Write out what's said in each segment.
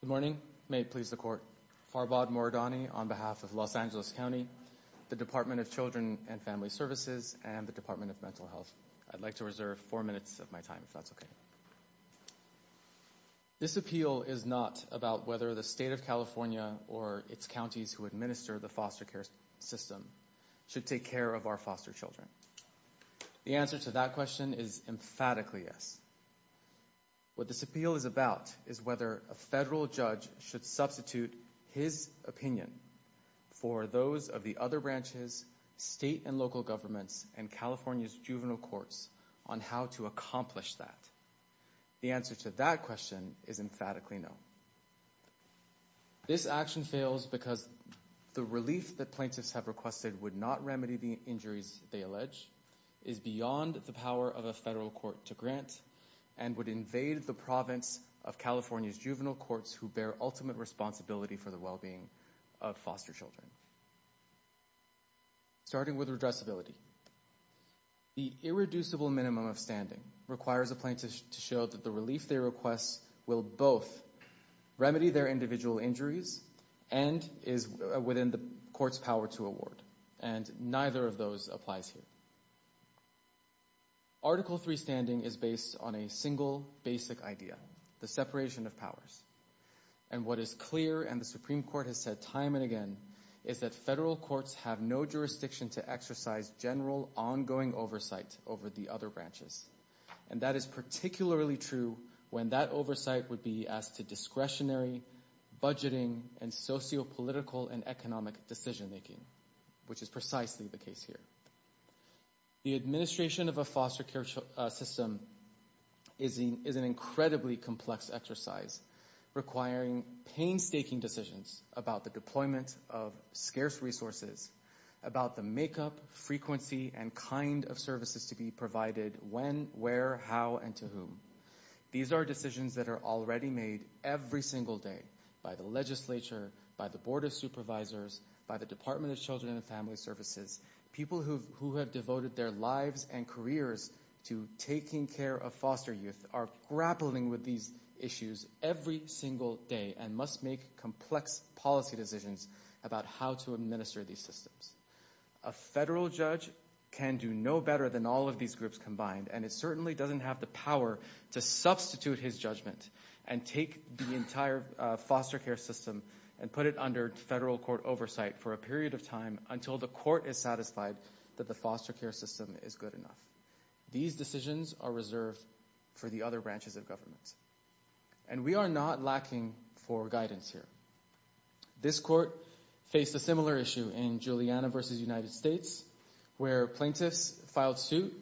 Good morning. May it please the court. Farbad Mouradani on behalf of Los Angeles County, the Department of Children and Family Services, and the Department of Mental Health. I'd like to reserve four minutes of my time, if that's okay. This appeal is not about whether the state of California or its counties who administer the foster care system should take care of our foster children. The answer to that question is emphatically yes. What this appeal is about is whether a federal judge should substitute his opinion for those of the other branches, state and local governments, and California's juvenile courts on how to accomplish that. The answer to that question is emphatically no. This action fails because the relief that plaintiffs have requested would not remedy the injuries they allege, is beyond the power of a federal court to grant, and would invade the province of California's juvenile courts who bear ultimate responsibility for the well-being of foster children. Starting with redressability. The irreducible minimum of standing requires a plaintiff to show that the relief they request will both remedy their individual injuries and is within the court's power to award, and neither of those applies here. Article 3 standing is based on a single basic idea, the separation of powers, and what is clear and the Supreme Court has said time and again is that federal courts have no jurisdiction to exercise general ongoing oversight over the other branches, and that is particularly true when that oversight would be as to discretionary budgeting and sociopolitical and economic decision making, which is precisely the case here. The administration of a foster care system is an incredibly complex exercise requiring painstaking decisions about the deployment of scarce resources, about the makeup, frequency, and kind of services to be provided, when, where, how, and to whom. These are decisions that are already made every single day by the legislature, by the Board of Supervisors, by the Department of Children and Family Services, people who have devoted their lives and careers to taking care of foster youth are grappling with these issues every single day and must make complex policy decisions about how to administer these systems. A federal judge can do no better than all of these groups combined, and it certainly doesn't have the power to substitute his judgment and take the entire foster care system and put it under federal court oversight for a period of time until the court is satisfied that the foster care system is good enough. These decisions are reserved for the other branches of government, and we are not lacking for guidance here. This court faced a similar issue in Juliana versus United States, where plaintiffs filed suit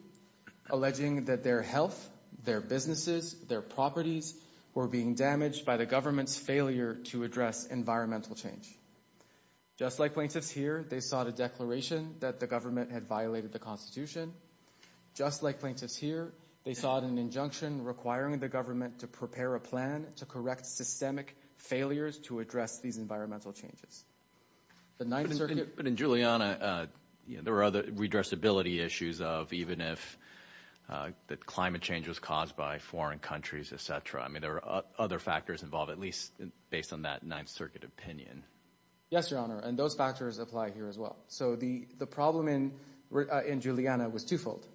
alleging that their health, their businesses, their properties were being damaged by the government's failure to address environmental change. Just like plaintiffs here, they sought a declaration that the government had violated the Constitution. Just like plaintiffs here, they sought an injunction requiring the government to prepare a plan to correct systemic failures to address these environmental changes. But in Juliana, there were other redressability issues of even if the climate change was caused by foreign countries, et cetera. I mean, there are other factors involved, at least based on that Ninth Circuit opinion. Yes, Your Honor, and those factors apply here as well. So the problem in Juliana was twofold.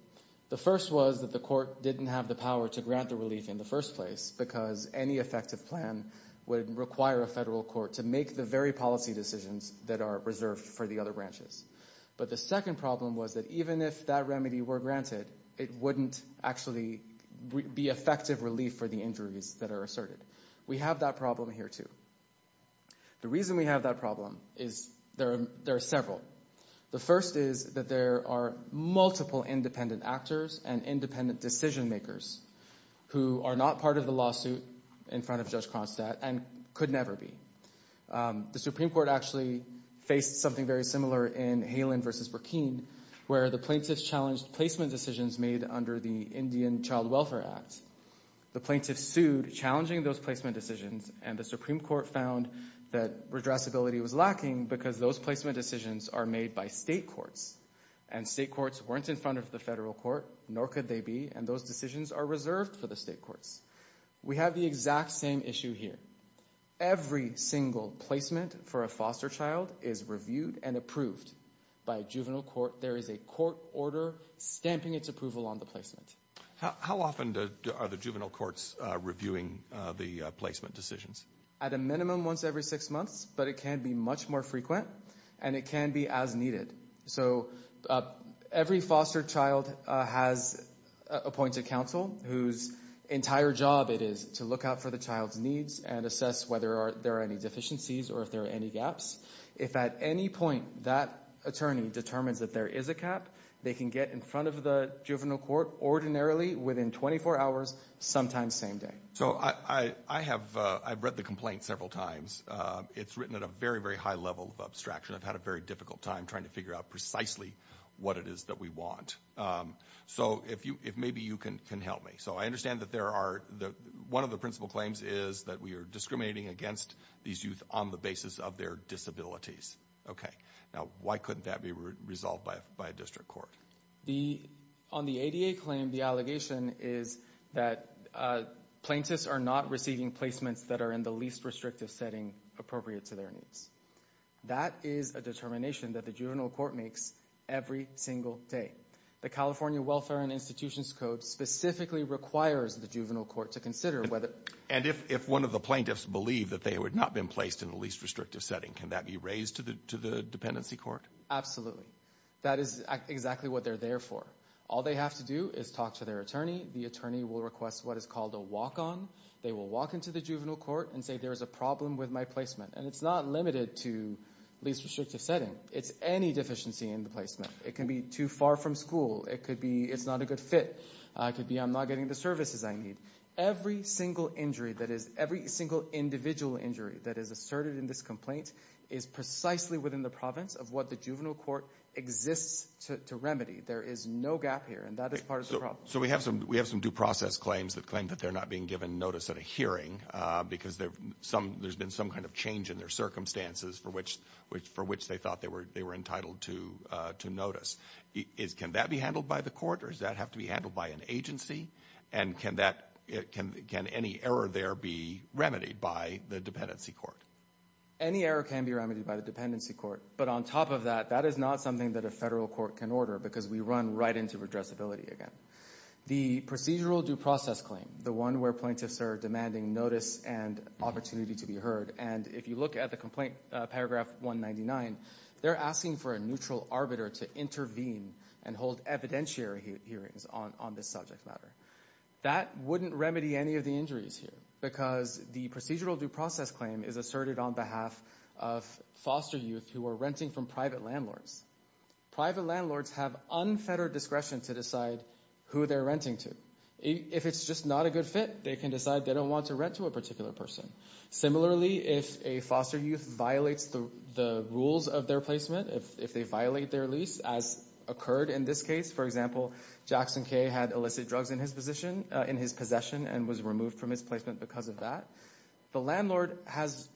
The first was that the court didn't have the power to grant the relief in the first place because any effective plan would require a federal court to make the very policy decisions that are reserved for the other branches. But the second problem was that even if that remedy were granted, it wouldn't actually be effective relief for the injuries that are asserted. We have that problem here, too. The reason we have that problem is there are several. The first is that there are multiple independent actors and independent decision makers who are not part of the lawsuit in front of Judge Cronstadt and could never be. The Supreme Court actually faced something very similar in Halin v. Burkine, where the plaintiffs challenged placement decisions made under the Indian Child Welfare Act. The plaintiffs were challenging those placement decisions, and the Supreme Court found that redressability was lacking because those placement decisions are made by state courts, and state courts weren't in front of the federal court, nor could they be, and those decisions are reserved for the state courts. We have the exact same issue here. Every single placement for a foster child is reviewed and approved by a juvenile court. There is a court order stamping its approval on the placement. How often are the juvenile courts reviewing the placement decisions? At a minimum, once every six months, but it can be much more frequent, and it can be as needed. Every foster child has appointed counsel whose entire job it is to look out for the child's needs and assess whether there are any deficiencies or if there are any gaps. If at any point that attorney determines that there is a cap, they can get in front of the juvenile court ordinarily within 24 hours, sometimes same day. So I have read the complaint several times. It's written at a very, very high level of abstraction. I've had a very difficult time trying to figure out precisely what it is that we want. So if maybe you can help me. So I understand that there are, one of the principal claims is that we are discriminating against these youth on the basis of their disabilities. Okay. Now why couldn't that be resolved by a district court? On the ADA claim, the allegation is that plaintiffs are not receiving placements that are in the least restrictive setting appropriate to their needs. That is a determination that the juvenile court makes every single day. The California Welfare and Institutions Code specifically requires the juvenile court to consider whether— And if one of the plaintiffs believed that they would not have been placed in the least restrictive setting, can that be raised to the dependency court? Absolutely. That is exactly what they're there for. All they have to do is talk to their attorney. The attorney will request what is called a walk-on. They will walk into the juvenile court and say, there is a problem with my placement. And it's not limited to least restrictive setting. It's any deficiency in the placement. It can be too far from school. It could be it's not a good fit. It could be I'm not getting the services I need. Every single injury that is—every single individual injury that is asserted in this complaint is precisely within the province of what the juvenile court exists to remedy. There is no gap here. And that is part of the problem. So we have some due process claims that claim that they're not being given notice at a hearing because there's been some kind of change in their circumstances for which they thought they were entitled to notice. Can that be handled by the court? Or does that have to be handled by an agency? And can any error there be remedied by the dependency court? Any error can be remedied by the dependency court. But on top of that, that is not something that a federal court can order because we run right into redressability again. The procedural due process claim, the one where plaintiffs are demanding notice and opportunity to be heard, and if you look at the complaint, paragraph 199, they're asking for a neutral arbiter to intervene and hold evidentiary hearings on this subject matter. That wouldn't remedy any of the injuries here because the procedural due process claim is asserted on behalf of foster youth who are renting from private landlords. Private landlords have unfettered discretion to decide who they're renting to. If it's just not a good fit, they can decide they don't want to rent to a particular person. Similarly, if a foster youth violates the rules of their placement, if they violate their lease, as occurred in this case, for example, Jackson K. had illicit drugs in his possession and was removed from his placement because of that, the landlord has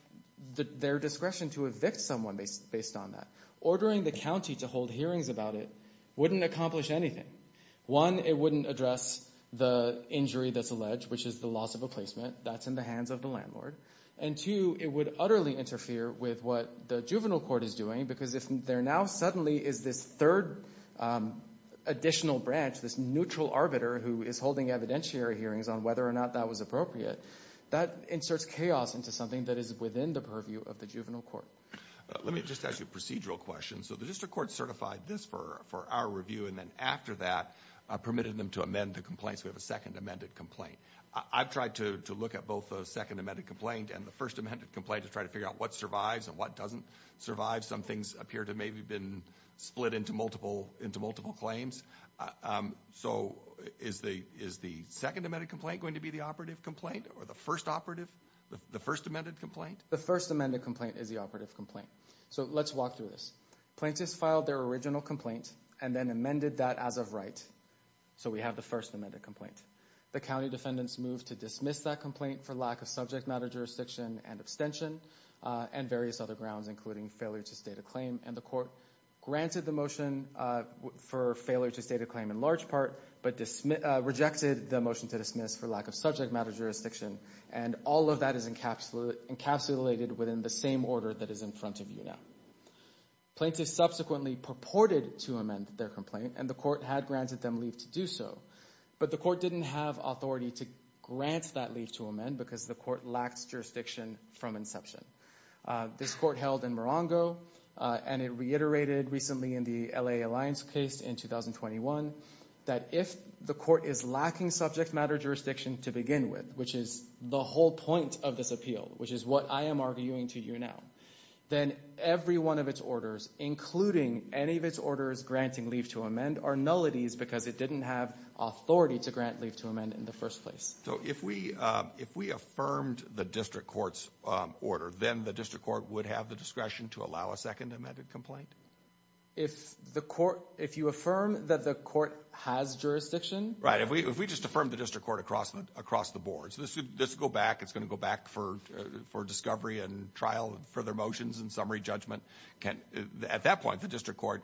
their discretion to evict someone based on that. Ordering the county to hold hearings about it wouldn't accomplish anything. One, it wouldn't address the injury that's alleged, which is the loss of a placement. That's in the hands of the landlord. And two, it would utterly interfere with what the juvenile court is doing because if there now suddenly is this third additional branch, this neutral arbiter who is holding evidentiary hearings on whether or not that was appropriate, that inserts chaos into something that is within the purview of the juvenile court. Let me just ask you a procedural question. The district court certified this for our review and then after that permitted them to amend the complaint, so we have a second amended complaint. I've tried to look at both the second amended complaint and the first amended complaint to try to figure out what survives and what doesn't survive. Some things appear to have maybe been split into multiple claims. Is the second amended complaint going to be the operative complaint or the first amended complaint? The first amended complaint is the operative complaint. Let's walk through this. Plaintiffs filed their original complaint and then amended that as of right, so we have the first amended complaint. The county defendants moved to dismiss that complaint for lack of subject matter jurisdiction and extension and various other grounds, including failure to state a claim, and the court granted the motion for failure to state a claim in large part, but rejected the motion to dismiss for lack of subject matter jurisdiction, and all of that is encapsulated within the same order that is in front of you now. Plaintiffs subsequently purported to amend their complaint and the court had granted them leave to do so, but the court didn't have authority to grant that leave to amend because the court lacks jurisdiction from inception. This court held in Morongo, and it reiterated recently in the L.A. Alliance case in 2021 that if the court is lacking subject matter jurisdiction to begin with, which is the whole point of this appeal, which is what I am arguing to you now, then every one of its orders, including any of its orders granting leave to amend, are nullities because it didn't have authority to grant leave to amend in the first place. So if we affirmed the district court's order, then the district court would have the discretion to allow a second amended complaint? If you affirm that the court has jurisdiction? Right, if we just affirmed the district court across the board, so this would go back, it's going to go back for discovery and trial and further motions and summary judgment, at that point, the district court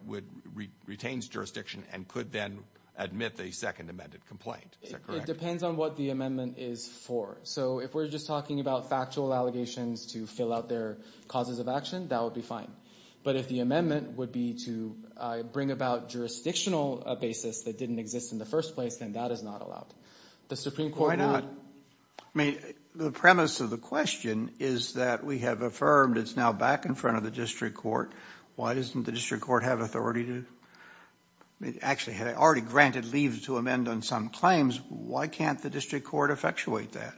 retains jurisdiction and could then admit the second amended complaint. Is that correct? It depends on what the amendment is for. So if we're just talking about factual allegations to fill out their causes of action, that would be fine. But if the amendment would be to bring about jurisdictional basis that didn't exist in the first place, then that is not allowed. Why not? I mean, the premise of the question is that we have affirmed, it's now back in the district court. Why doesn't the district court have authority to, actually had it already granted leave to amend on some claims, why can't the district court effectuate that?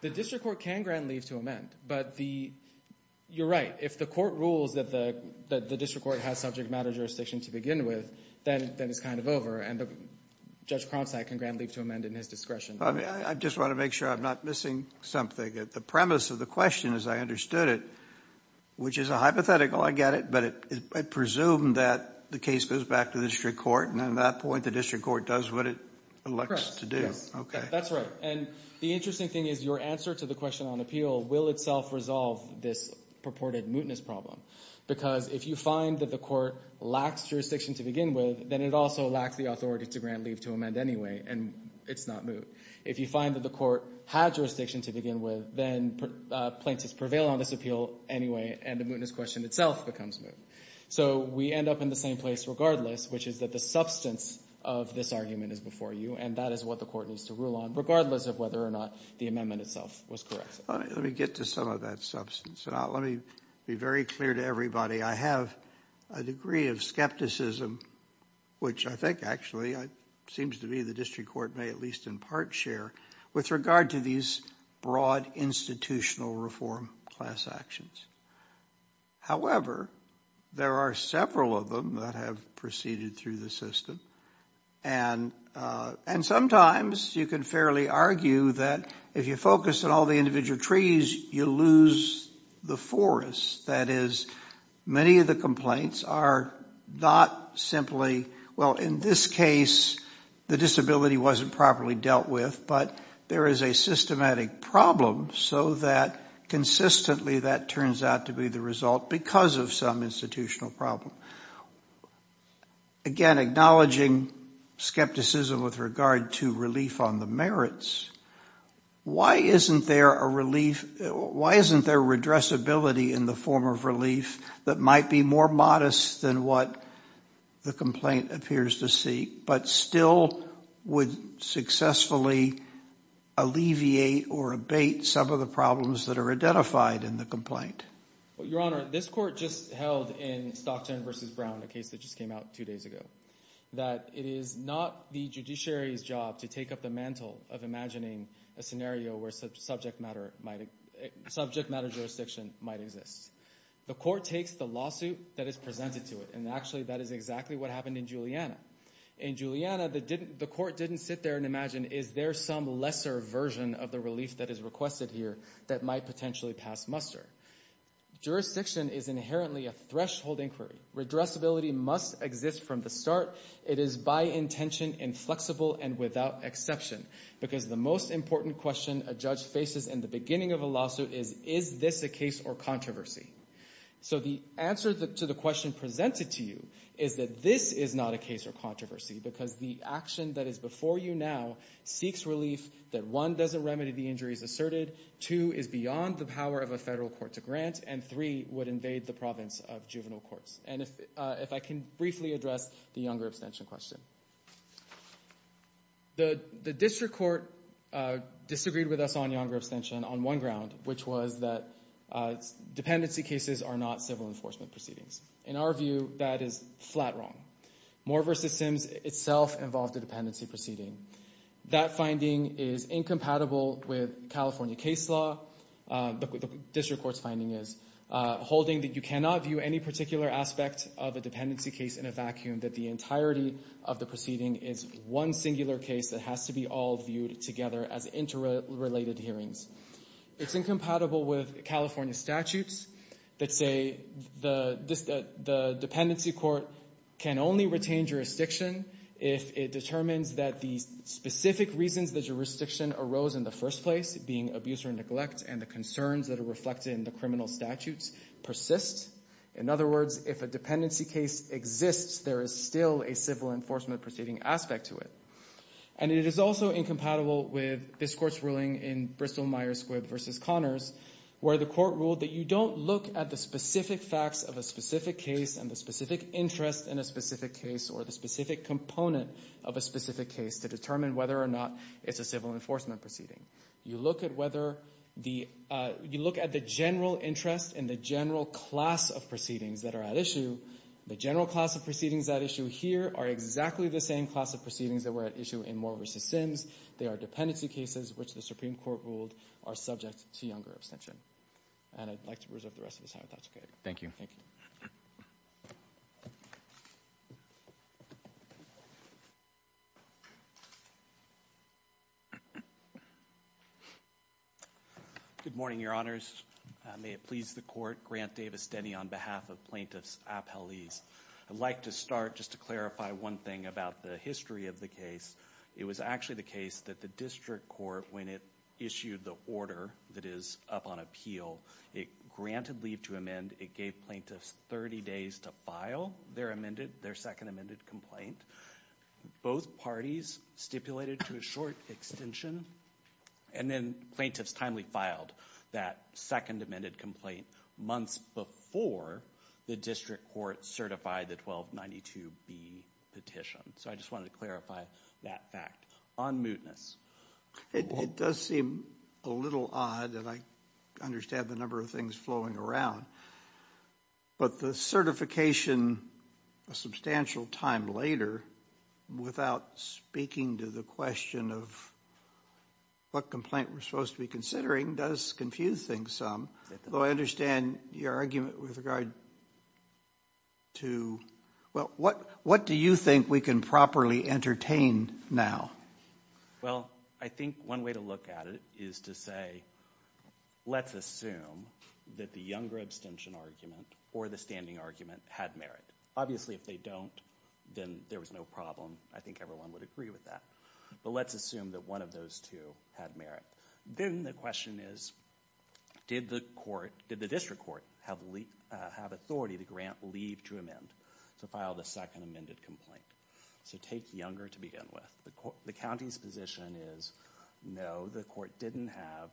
The district court can grant leave to amend, but the, you're right, if the court rules that the district court has subject matter jurisdiction to begin with, then it's kind of over and Judge Cromsack can grant leave to amend in his discretion. I just want to make sure I'm not missing something. The premise of the question as I understood it, which is a hypothetical, I get it, but I presume that the case goes back to the district court and at that point the district court does what it elects to do. Correct, yes. That's right. And the interesting thing is your answer to the question on appeal will itself resolve this purported mootness problem. Because if you find that the court lacks jurisdiction to begin with, then it also lacks the authority to grant leave to amend anyway, and it's not moot. If you find that the court had jurisdiction to begin with, then plaintiffs prevail on this appeal anyway, and the mootness question itself becomes moot. So we end up in the same place regardless, which is that the substance of this argument is before you, and that is what the court needs to rule on, regardless of whether or not the amendment itself was correct. Let me get to some of that substance. Let me be very clear to everybody. I have a degree of skepticism, which I think actually seems to me the district court may at least in part share, with regard to these broad institutional reform class actions. However, there are several of them that have proceeded through the system, and sometimes you can fairly argue that if you focus on all the individual trees, you lose the forest. That is, many of the complaints are not simply, well, in this case, the disability wasn't properly dealt with, but there is a systematic problem so that consistently that turns out to be the result because of some institutional problem. Again, acknowledging skepticism with regard to relief on the merits, why isn't there a less than what the complaint appears to seek, but still would successfully alleviate or abate some of the problems that are identified in the complaint? Your Honor, this court just held in Stockton v. Brown, a case that just came out two days ago, that it is not the judiciary's job to take up the mantle of imagining a scenario where subject matter jurisdiction might exist. The court takes the lawsuit that is presented to it, and actually, that is exactly what happened in Juliana. In Juliana, the court didn't sit there and imagine, is there some lesser version of the relief that is requested here that might potentially pass muster? Jurisdiction is inherently a threshold inquiry. Redressability must exist from the start. It is by intention inflexible and without exception because the most important question a judge faces in the beginning of a lawsuit is, is this a case or controversy? So the answer to the question presented to you is that this is not a case or controversy because the action that is before you now seeks relief that, one, doesn't remedy the injuries asserted, two, is beyond the power of a federal court to grant, and three, would invade the province of juvenile courts. And if I can briefly address the Younger Abstention question. The district court disagreed with us on Younger Abstention on one ground, which was that dependency cases are not civil enforcement proceedings. In our view, that is flat wrong. Moore v. Sims itself involved a dependency proceeding. That finding is incompatible with California case law. The district court's finding is, holding that you cannot view any particular aspect of a dependency case in a vacuum, that the entirety of the proceeding is one singular case that has to be all viewed together as interrelated hearings. It's incompatible with California statutes that say the dependency court can only retain jurisdiction if it determines that the specific reasons the jurisdiction arose in the first place, being abuse or neglect, and the concerns that are reflected in the criminal statutes persist. In other words, if a dependency case exists, there is still a civil enforcement proceeding aspect to it. And it is also incompatible with this court's ruling in Bristol-Myers Squibb v. Connors, where the court ruled that you don't look at the specific facts of a specific case and the specific interest in a specific case or the specific component of a specific case to determine whether or not it's a civil enforcement proceeding. You look at the general interest and the general class of proceedings that are at issue. The general class of proceedings at issue here are exactly the same class of proceedings that were at issue in Moore v. Sims. They are dependency cases, which the Supreme Court ruled are subject to younger abstention. And I'd like to reserve the rest of his time if that's okay. Thank you. Thank you. Good morning, Your Honors. May it please the Court, Grant Davis Denny on behalf of Plaintiffs Appellees. I'd like to start just to clarify one thing about the history of the case. It was actually the case that the district court, when it issued the order that is up on appeal, it granted leave to amend. It gave plaintiffs 30 days to file their amended, their second amended complaint. Both parties stipulated to a short extension and then plaintiffs timely filed that second amended complaint months before the district court certified the 1292B petition. So I just wanted to clarify that fact. On mootness. It does seem a little odd and I understand the number of things flowing around, but the certification a substantial time later, without speaking to the question of what complaint we're supposed to be considering, does confuse things some. Though I understand your argument with regard to, well, what do you think we can properly entertain now? Well, I think one way to look at it is to say, let's assume that the younger abstention argument or the standing argument had merit. Obviously, if they don't, then there was no problem. I think everyone would agree with that. But let's assume that one of those two had merit. Then the question is, did the district court have authority to grant leave to amend to file the second amended complaint? So take Younger to begin with. The county's position is, no, the court didn't have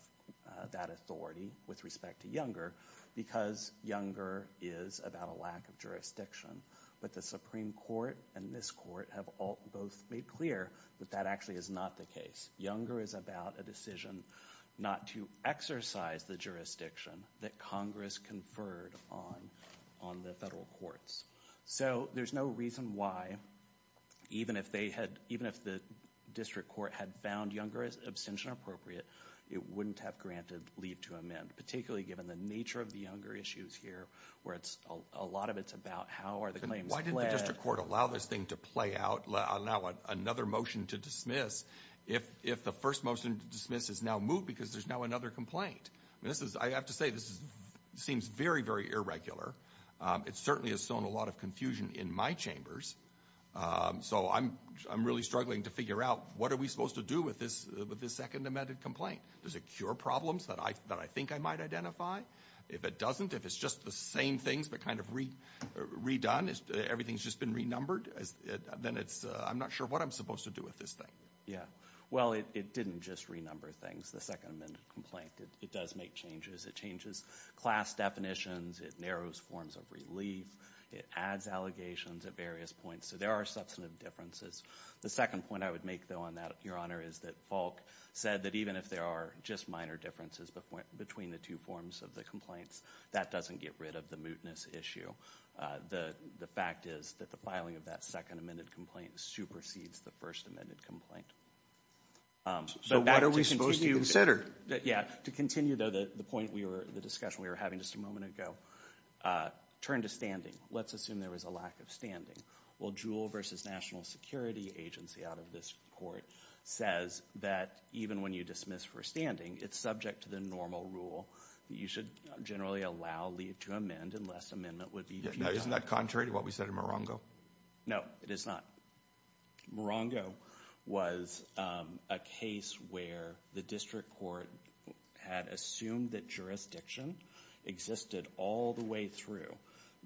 that authority with respect to Younger because Younger is about a lack of jurisdiction. But the Supreme Court and this court have both made clear that that actually is not the case. Younger is about a decision not to exercise the jurisdiction that Congress conferred on the federal courts. So there's no reason why, even if the district court had found Younger's abstention appropriate, it wouldn't have granted leave to amend, particularly given the nature of the Younger issues here, where a lot of it's about how are the claims pledged. Does the district court allow this thing to play out, allow another motion to dismiss if the first motion to dismiss is now moved because there's now another complaint? I have to say, this seems very, very irregular. It certainly has sown a lot of confusion in my chambers. So I'm really struggling to figure out what are we supposed to do with this second amended complaint? Does it cure problems that I think I might identify? If it doesn't, if it's just the same things but kind of redone, everything's just been renumbered, then I'm not sure what I'm supposed to do with this thing. Yeah. Well, it didn't just renumber things, the second amended complaint. It does make changes. It changes class definitions. It narrows forms of relief. It adds allegations at various points. So there are substantive differences. The second point I would make, though, on that, Your Honor, is that Falk said that even if there are just minor differences between the two forms of the complaints, that doesn't get rid of the mootness issue. The fact is that the filing of that second amended complaint supersedes the first amended complaint. So what are we supposed to consider? Yeah. To continue, though, the point, the discussion we were having just a moment ago, turn to standing. Let's assume there was a lack of standing. Well, Jewell v. National Security Agency out of this court says that even when you dismiss for standing, it's subject to the normal rule that you should generally allow leave to amend unless amendment would be... Now, isn't that contrary to what we said in Morongo? No, it is not. Morongo was a case where the district court had assumed that jurisdiction existed all the way through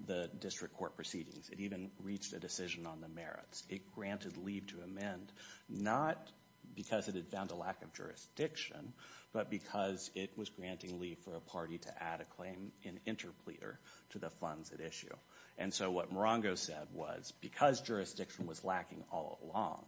the district court proceedings. It even reached a decision on the merits. It granted leave to amend, not because it had found a lack of jurisdiction, but because it was granting leave for a party to add a claim in interpleader to the funds at issue. And so what Morongo said was, because jurisdiction was lacking all along,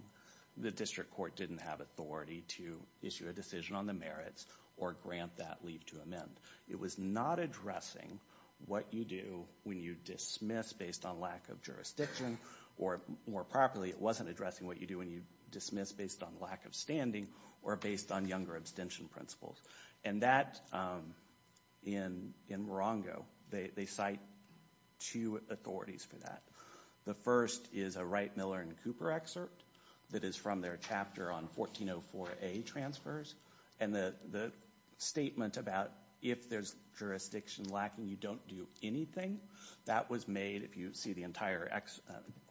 the district court didn't have authority to issue a decision on the merits or grant that leave to amend. It was not addressing what you do when you dismiss based on lack of jurisdiction, or more properly, it wasn't addressing what you do when you dismiss based on lack of standing or based on younger abstention principles. And that, in Morongo, they cite two authorities for that. The first is a Wright, Miller, and Cooper excerpt that is from their chapter on 1404A transfers, and the statement about if there's jurisdiction lacking, you don't do anything, that was made, if you see the entire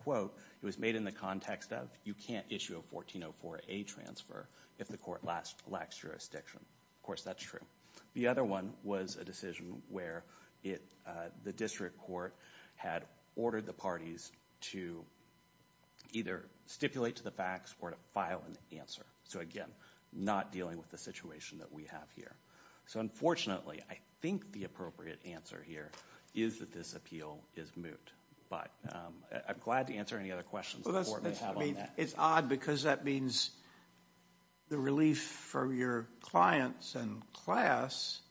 quote, it was made in the context of you can't issue a 1404A transfer if the court lacks jurisdiction. Of course, that's true. The other one was a decision where the district court had ordered the parties to either stipulate to the facts or to file an answer. So again, not dealing with the situation that we have here. So unfortunately, I think the appropriate answer here is that this appeal is moot. But I'm glad to answer any other questions the court may have on that. It's odd because that means the relief for your clients and class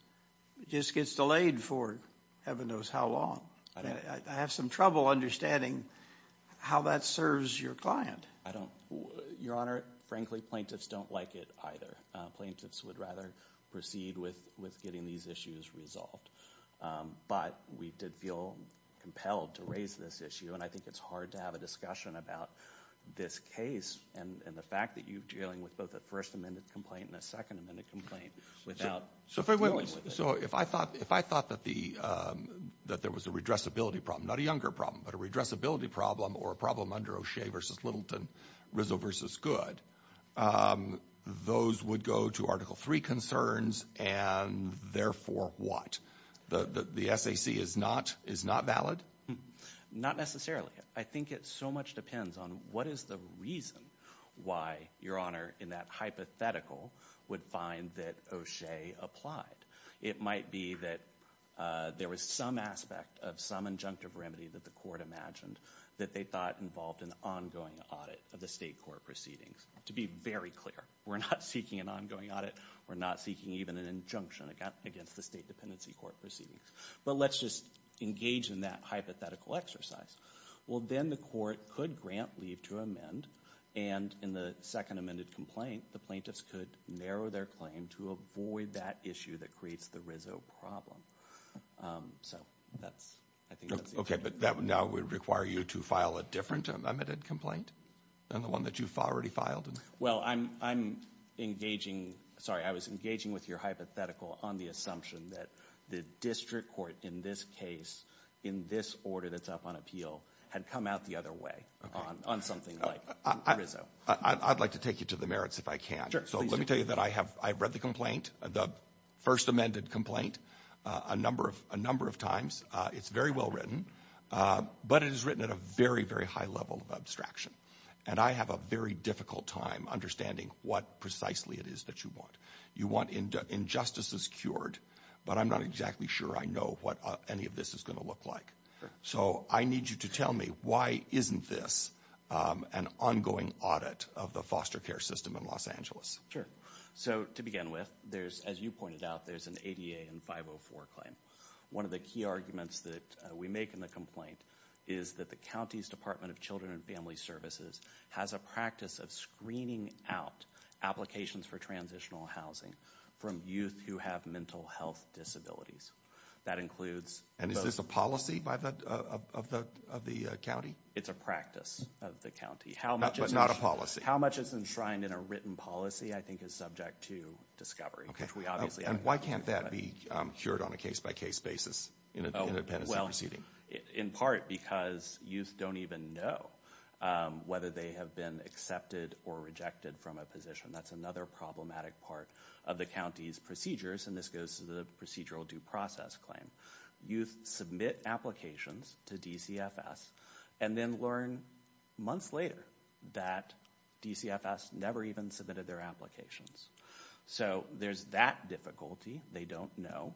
just gets delayed for heaven knows how long. I have some trouble understanding how that serves your client. Your Honor, frankly, plaintiffs don't like it either. Plaintiffs would rather proceed with getting these issues resolved. But we did feel compelled to raise this issue, and I think it's hard to have a discussion about this case and the fact that you're dealing with both a First Amendment complaint and a Second Amendment complaint without dealing with it. So if I thought that there was a redressability problem, not a younger problem, but a redressability problem or a problem under O'Shea v. Littleton, Rizzo v. Goode, those would go to Article 3 concerns, and therefore what? The SAC is not valid? Not necessarily. I think it so much depends on what is the reason why your Honor in that hypothetical would find that O'Shea applied. It might be that there was some aspect of some injunctive remedy that the court imagined that they thought involved an ongoing audit of the state court proceedings. To be very clear, we're not seeking an ongoing audit. We're not seeking even an injunction against the State Dependency Court proceedings. But let's just engage in that hypothetical exercise. Well, then the court could grant leave to amend, and in the Second Amendment complaint, the plaintiffs could narrow their claim to avoid that issue that creates the Rizzo problem. So that's, I think, that's the intention. Okay, but that now would require you to file a different amended complaint than the one that you've already filed? Well, I'm engaging, sorry, I was engaging with your hypothetical on the assumption that the district court in this case, in this order that's up on appeal, had come out the other way on something like Rizzo. I'd like to take you to the merits if I can. So let me tell you that I have read the complaint, the First Amendment complaint, a number of times. It's very well written, but it is written at a very, very high level of abstraction. And I have a very difficult time understanding what precisely it is that you want. You want injustices cured, but I'm not exactly sure I know what any of this is going to look like. So I need you to tell me why isn't this an ongoing audit of the foster care system in Los Angeles? Sure. So to begin with, there's, as you pointed out, there's an ADA and 504 claim. One of the key arguments that we make in the complaint is that the county's Department of Children and Family Services has a practice of screening out applications for transitional housing from youth who have mental health disabilities. That includes... And is this a policy of the county? It's a practice of the county. But not a policy? How much is enshrined in a written policy, I think, is subject to discovery. Okay. And why can't that be cured on a case-by-case basis in a dependency proceeding? Well, in part because youth don't even know whether they have been accepted or rejected from a position. That's another problematic part of the county's procedures, and this goes to the procedural due process claim. Youth submit applications to DCFS and then learn months later that DCFS never even submitted their applications. So there's that difficulty. They don't know.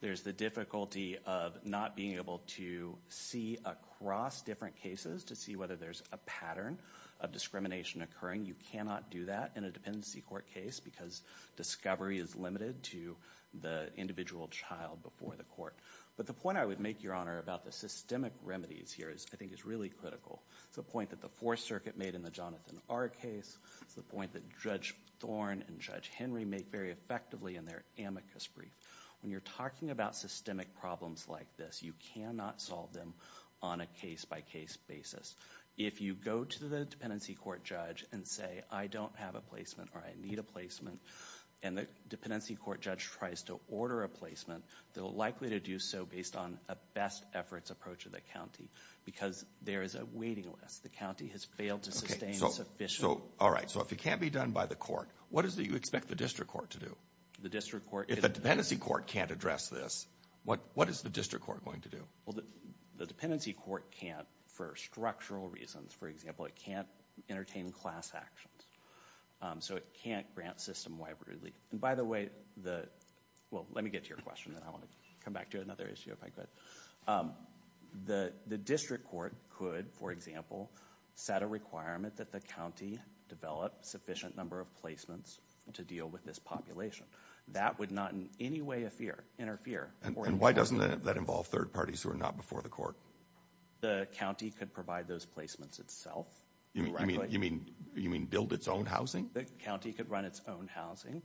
There's the difficulty of not being able to see across different cases to see whether there's a pattern of discrimination occurring. You cannot do that in a dependency court case because discovery is limited to the individual child before the court. But the point I would make, Your Honor, about the systemic remedies here, I think, is really critical. It's a point that the Fourth Circuit made in the Jonathan R. case. It's a point that Judge Thorne and Judge Henry make very effectively in their amicus brief. When you're talking about systemic problems like this, you cannot solve them on a case-by-case basis. If you go to the dependency court judge and say, I don't have a placement or I need a placement, and the dependency court judge tries to order a placement, they're likely to do so based on a best-efforts approach of the county because there is a waiting list. The county has failed to sustain sufficient... Okay. All right. So if it can't be done by the court, what is it you expect the district court to do? The district court... If a dependency court can't address this, what is the district court going to do? Well, the dependency court can't for structural reasons. For example, it can't entertain class actions. So it can't grant system-wide relief. And by the way, the... Well, let me get to your question, then I want to come back to another issue if I could. The district court could, for example, set a requirement that the county develop sufficient number of placements to deal with this population. That would not in any way interfere... And why doesn't that involve third parties who are not before the court? The county could provide those placements itself. You mean build its own housing? The county could run its own housing.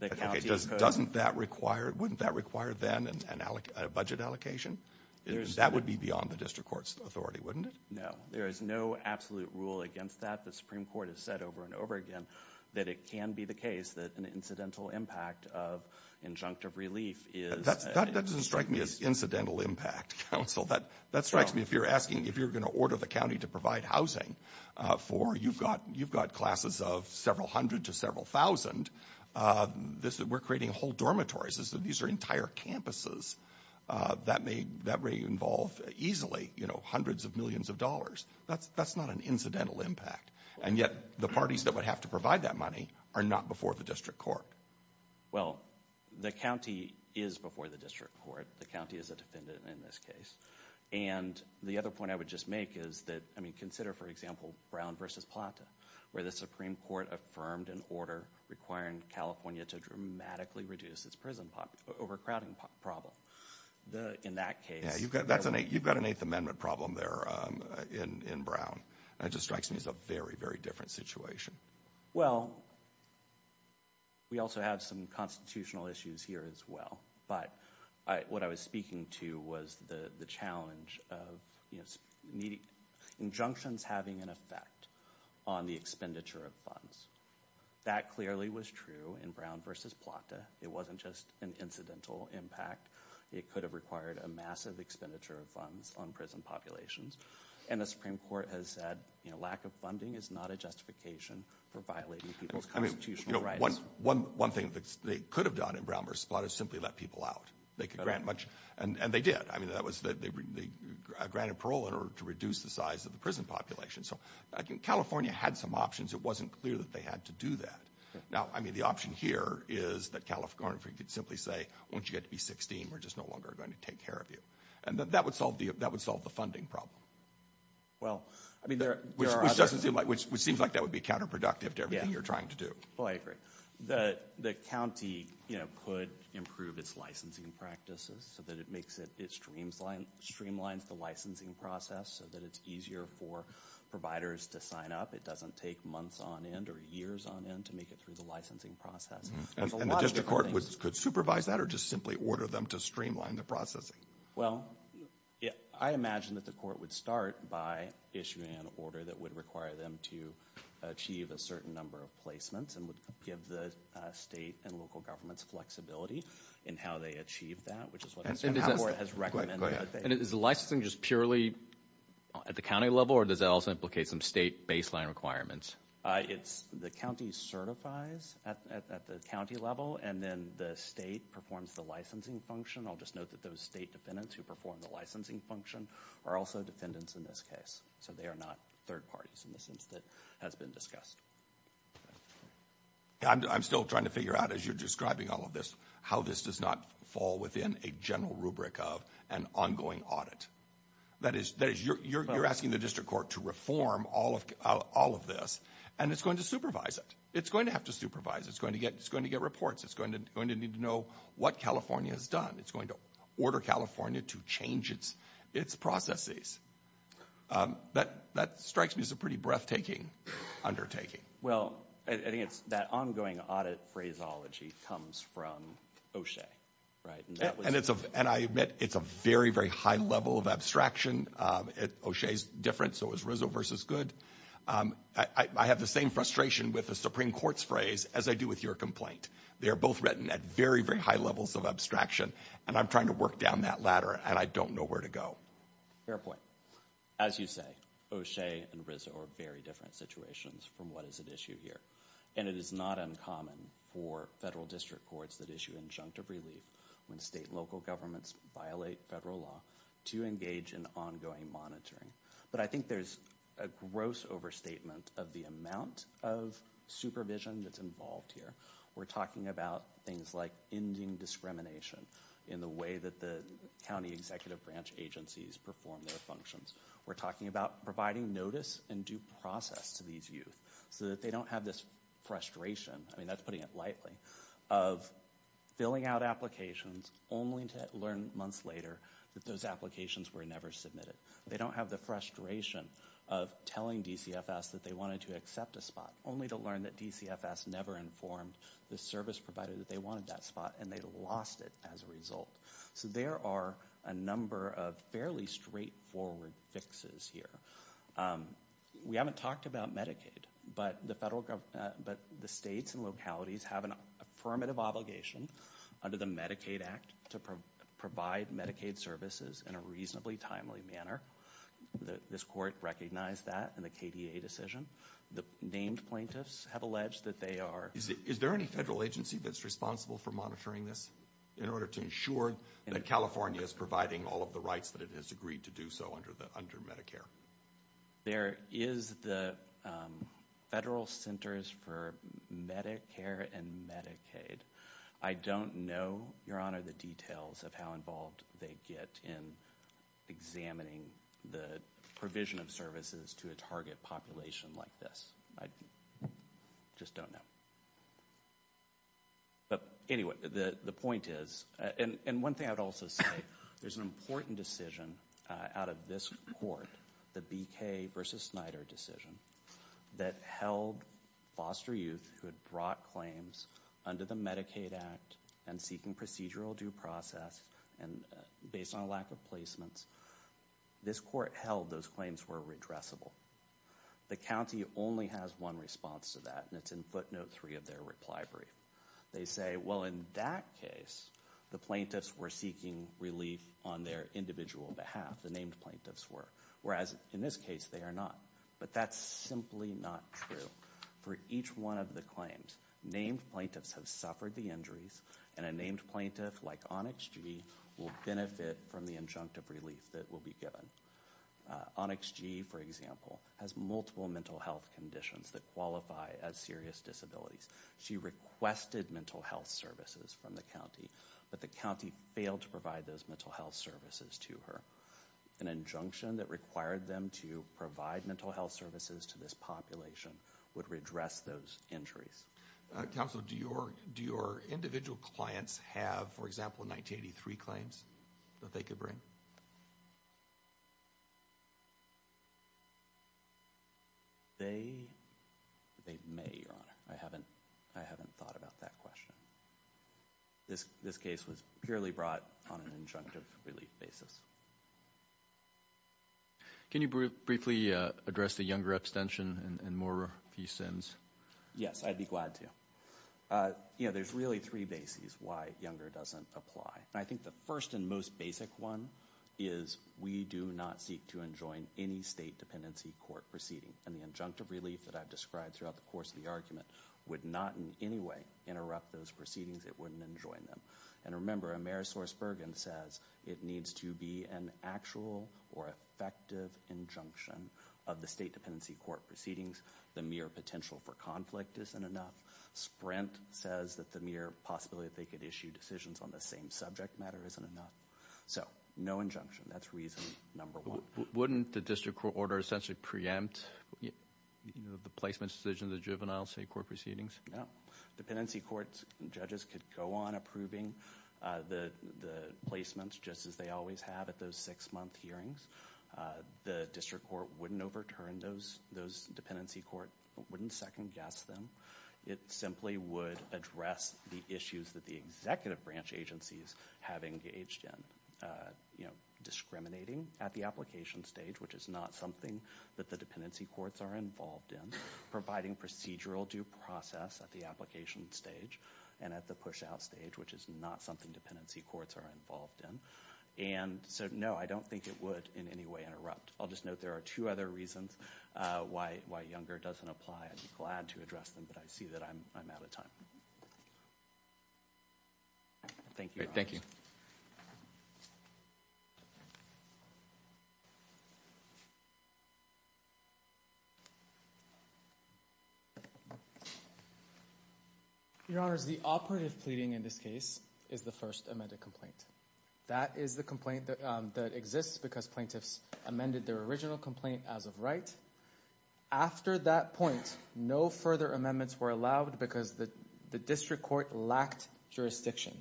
Okay. Doesn't that require... Wouldn't that require then a budget allocation? That would be beyond the district court's authority, wouldn't it? No. There is no absolute rule against that. The Supreme Court has said over and over again that it can be the case that an incidental impact of injunctive relief is... That strikes me. If you're asking... If you're going to order the county to provide housing for... You've got classes of several hundred to several thousand. We're creating whole dormitories. These are entire campuses. That may involve easily hundreds of millions of dollars. That's not an incidental impact. And yet, the parties that would have to provide that money are not before the district court. Well, the county is before the district court. The county is a defendant in this case. And the other point I would just make is that... I mean, consider, for example, Brown versus Plata, where the Supreme Court affirmed an order requiring California to dramatically reduce its prison population... overcrowding problem. In that case... Yeah. You've got an Eighth Amendment problem there in Brown. That just strikes me as a very, very different situation. Well, we also have some constitutional issues here as well. But, what I was speaking to was the challenge of... Injunctions having an effect on the expenditure of funds. That clearly was true in Brown versus Plata. It wasn't just an incidental impact. It could have required a massive expenditure of funds on prison populations. And the Supreme Court has said, you know, lack of funding is not a justification for violating people's constitutional rights. One thing that they could have done in Brown versus Plata is simply let people out. They could grant much... and they did. I mean, that was... they granted parole in order to reduce the size of the prison population. So, California had some options. It wasn't clear that they had to do that. Now, I mean, the option here is that California could simply say, won't you get to be 16? We're just no longer going to take care of you. And that would solve the funding problem. Well, I mean, there are... Which doesn't seem like... which seems like that would be counterproductive to everything you're trying to do. Well, I agree. The county, you know, could improve its licensing practices so that it makes it... it streamlines the licensing process so that it's easier for providers to sign up. It doesn't take months on end or years on end to make it through the licensing process. And the district court could supervise that or just simply order them to streamline the processing? Well, I imagine that the court would start by issuing an order that would require them to achieve a certain number of placements and would give the state and local governments flexibility in how they achieve that, which is what the district court has recommended. And is the licensing just purely at the county level or does that also implicate some state baseline requirements? It's... the county certifies at the county level and then the state performs the licensing function. I'll just note that those state defendants who perform the licensing function are also defendants in this case, so they are not third parties in the sense that has been discussed. I'm still trying to figure out as you're describing all of this how this does not fall within a general rubric of an ongoing audit. That is, you're asking the district court to reform all of this and it's going to supervise it. It's going to have to supervise. It's going to get reports. It's going to need to know what California has done. It's going to order California to change its processes. That strikes me as a pretty breathtaking undertaking. Well, I think it's that ongoing audit phraseology comes from O'Shea, right? And I admit it's a very, very high level of abstraction. O'Shea's different, so is Rizzo versus Goode. I have the same frustration with the Supreme Court's phrase as I do with your complaint. They are both written at very, very high levels of abstraction and I'm trying to work down that ladder and I don't know where to go. Fair point. As you say, O'Shea and Rizzo are very different situations from what is at issue here. And it is not uncommon for federal district courts that issue injunctive relief when state and local governments violate federal law to engage in ongoing monitoring. But I think there's a gross overstatement of the amount of supervision that's involved here. We're talking about things like ending discrimination in the way that the county executive branch agencies perform their functions. We're talking about providing notice and due process to these youth so that they don't have this frustration, I mean that's putting it lightly, of filling out applications only to learn months later that those applications were never submitted. They don't have the frustration of telling DCFS that they wanted to accept a spot only to learn that DCFS never informed the service provider that they wanted that spot and they lost it as a result. So there are a number of fairly straightforward fixes here. We haven't talked about Medicaid, but the federal government, but the states and localities have an affirmative obligation under the Medicaid Act to provide Medicaid services in a reasonably timely manner. This court recognized that in the KDA decision. The named plaintiffs have alleged that they are. Is there any federal agency that's responsible for monitoring this in order to ensure that California is providing all of the rights that it has agreed to do so under Medicare? There is the Federal Centers for Medicare and Medicaid. I don't know, Your Honor, the details of how involved they get in examining the provision of services to a target population like this. I just don't know. But anyway, the point is, and one thing I would also say, there's an important decision out of this court, the BK v. Snyder decision, that held foster youth who had brought claims under the Medicaid Act and seeking procedural due process based on a lack of placements. This court held those claims were redressable. The county only has one response to that, and it's in footnote three of their reply brief. They say, well, in that case, the plaintiffs were seeking relief on their individual behalf, the named plaintiffs were, whereas in this case, they are not. But that's simply not true. For each one of the claims, named plaintiffs have suffered the injuries, and a named plaintiff like Onyx G will benefit from the injunctive relief that will be given. Onyx G, for example, has multiple mental health conditions that qualify as serious disabilities. She requested mental health services from the county, but the county failed to provide those mental health services to her. An injunction that required them to provide mental health services to this population would redress those injuries. Counsel, do your individual clients have, for example, 1983 claims that they could bring? They may, Your Honor. I haven't thought about that question. This case was purely brought on an injunctive relief basis. Can you briefly address the Younger abstention and more of these sins? Yes, I'd be glad to. There's really three bases why Younger doesn't apply. I think the first and most basic one is we do not seek to enjoin any state dependency court proceeding. And the injunctive relief that I've described throughout the course of the argument would not in any way interrupt those proceedings, it wouldn't enjoin them. And remember, Amerisource Bergen says it needs to be an actual or effective injunction of the state dependency court proceedings. The mere potential for conflict isn't enough. Sprint says that the mere possibility that they could issue decisions on the same subject matter isn't enough. So no injunction, that's reason number one. Wouldn't the district court order essentially preempt the placement decision of the juvenile state court proceedings? No. Dependency court judges could go on approving the placements just as they always have at those six-month hearings. The district court wouldn't overturn those dependency court, wouldn't second-guess them. It simply would address the issues that the executive branch agencies have engaged in. Discriminating at the application stage, which is not something that the dependency courts are involved in. Providing procedural due process at the application stage and at the push-out stage, which is not something dependency courts are involved in. And so no, I don't think it would in any way interrupt. I'll just note there are two other reasons why Younger doesn't apply. I'd be glad to address them, but I see that I'm out of time. Thank you. Thank you. Your Honors, the operative pleading in this case is the first amended complaint. That is the complaint that exists because plaintiffs amended their original complaint as of right. After that point, no further amendments were allowed because the district court lacked jurisdiction.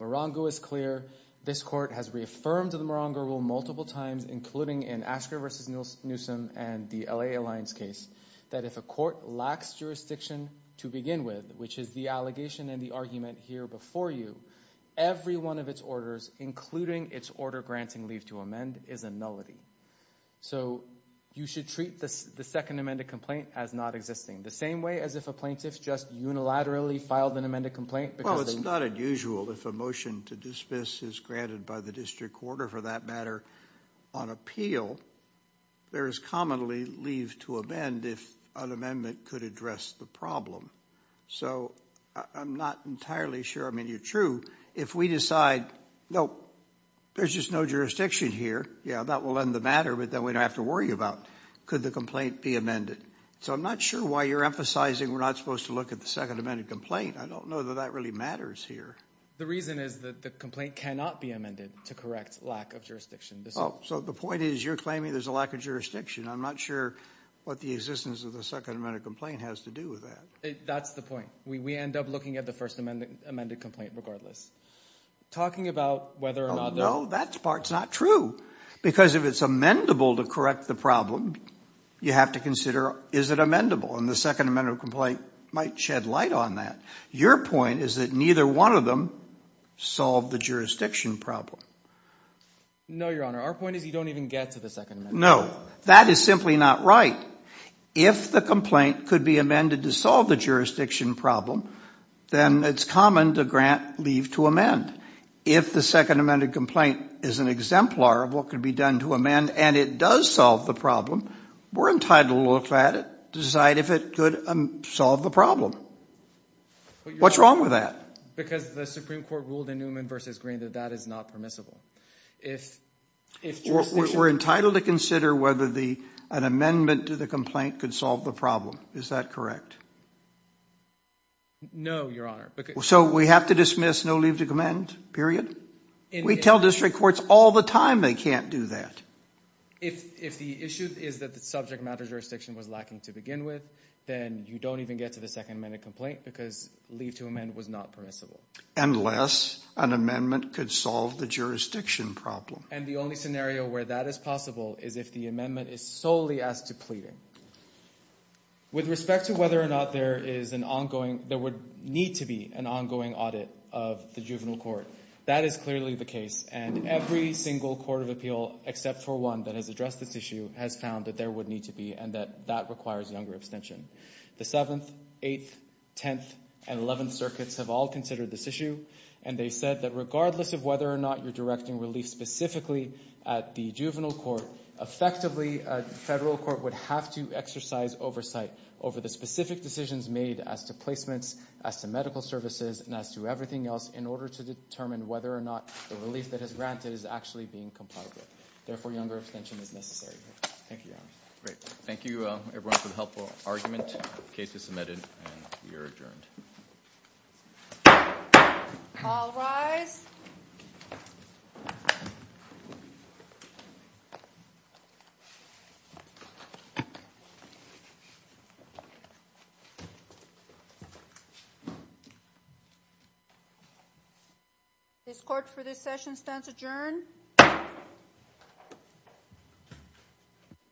Morongo is clear. This court has reaffirmed the Morongo rule multiple times, including in Asker v. Newsom and the L.A. Alliance case, that if a court lacks jurisdiction to begin with, which is the allegation and the argument here before you, every one of its orders, including its order granting leave to amend, is a nullity. So you should treat the second amended complaint as not existing. The same way as if a plaintiff just unilaterally filed an amended complaint because they— Well, it's not unusual. If a motion to dismiss is granted by the district court or for that matter on appeal, there is commonly leave to amend if an amendment could address the problem. So I'm not entirely sure. I mean, you're true. If we decide, nope, there's just no jurisdiction here, yeah, that will end the matter, but then we don't have to worry about could the complaint be amended. So I'm not sure why you're emphasizing we're not supposed to look at the second amended complaint. I don't know that that really matters here. The reason is that the complaint cannot be amended to correct lack of jurisdiction. So the point is you're claiming there's a lack of jurisdiction. I'm not sure what the existence of the second amended complaint has to do with that. That's the point. We end up looking at the first amended complaint regardless. Talking about whether or not— No, that part's not true because if it's amendable to correct the problem, you have to consider is it amendable and the second amended complaint might shed light on that. Your point is that neither one of them solved the jurisdiction problem. No, Your Honor. Our point is you don't even get to the second amended complaint. No, that is simply not right. If the complaint could be amended to solve the jurisdiction problem, then it's common to grant leave to amend. If the second amended complaint is an exemplar of what could be done to amend and it does solve the problem, we're entitled to look at it, decide if it could solve the problem. What's wrong with that? Because the Supreme Court ruled in Newman v. Green that that is not permissible. If jurisdiction— We're entitled to consider whether an amendment to the complaint could solve the problem. Is that correct? No, Your Honor. So we have to dismiss no leave to amend, period? We tell district courts all the time they can't do that. If the issue is that the subject matter jurisdiction was lacking to begin with, then you don't even get to the second amended complaint because leave to amend was not permissible. Unless an amendment could solve the jurisdiction problem. And the only scenario where that is possible is if the amendment is solely as to pleading. With respect to whether or not there would need to be an ongoing audit of the juvenile court, that is clearly the case. And every single court of appeal, except for one that has addressed this issue, has found that there would need to be and that that requires younger abstention. The 7th, 8th, 10th, and 11th circuits have all considered this issue, and they said that regardless of whether or not you're directing relief specifically at the juvenile court, effectively a federal court would have to exercise oversight over the specific decisions made as to placements, as to medical services, and as to everything else in order to determine whether or not the relief that is granted is actually being complied with. Therefore, younger abstention is necessary. Thank you, Your Honor. Great. Thank you, everyone, for the helpful argument. The case is submitted, and we are adjourned. All rise. This court for this session stands adjourned.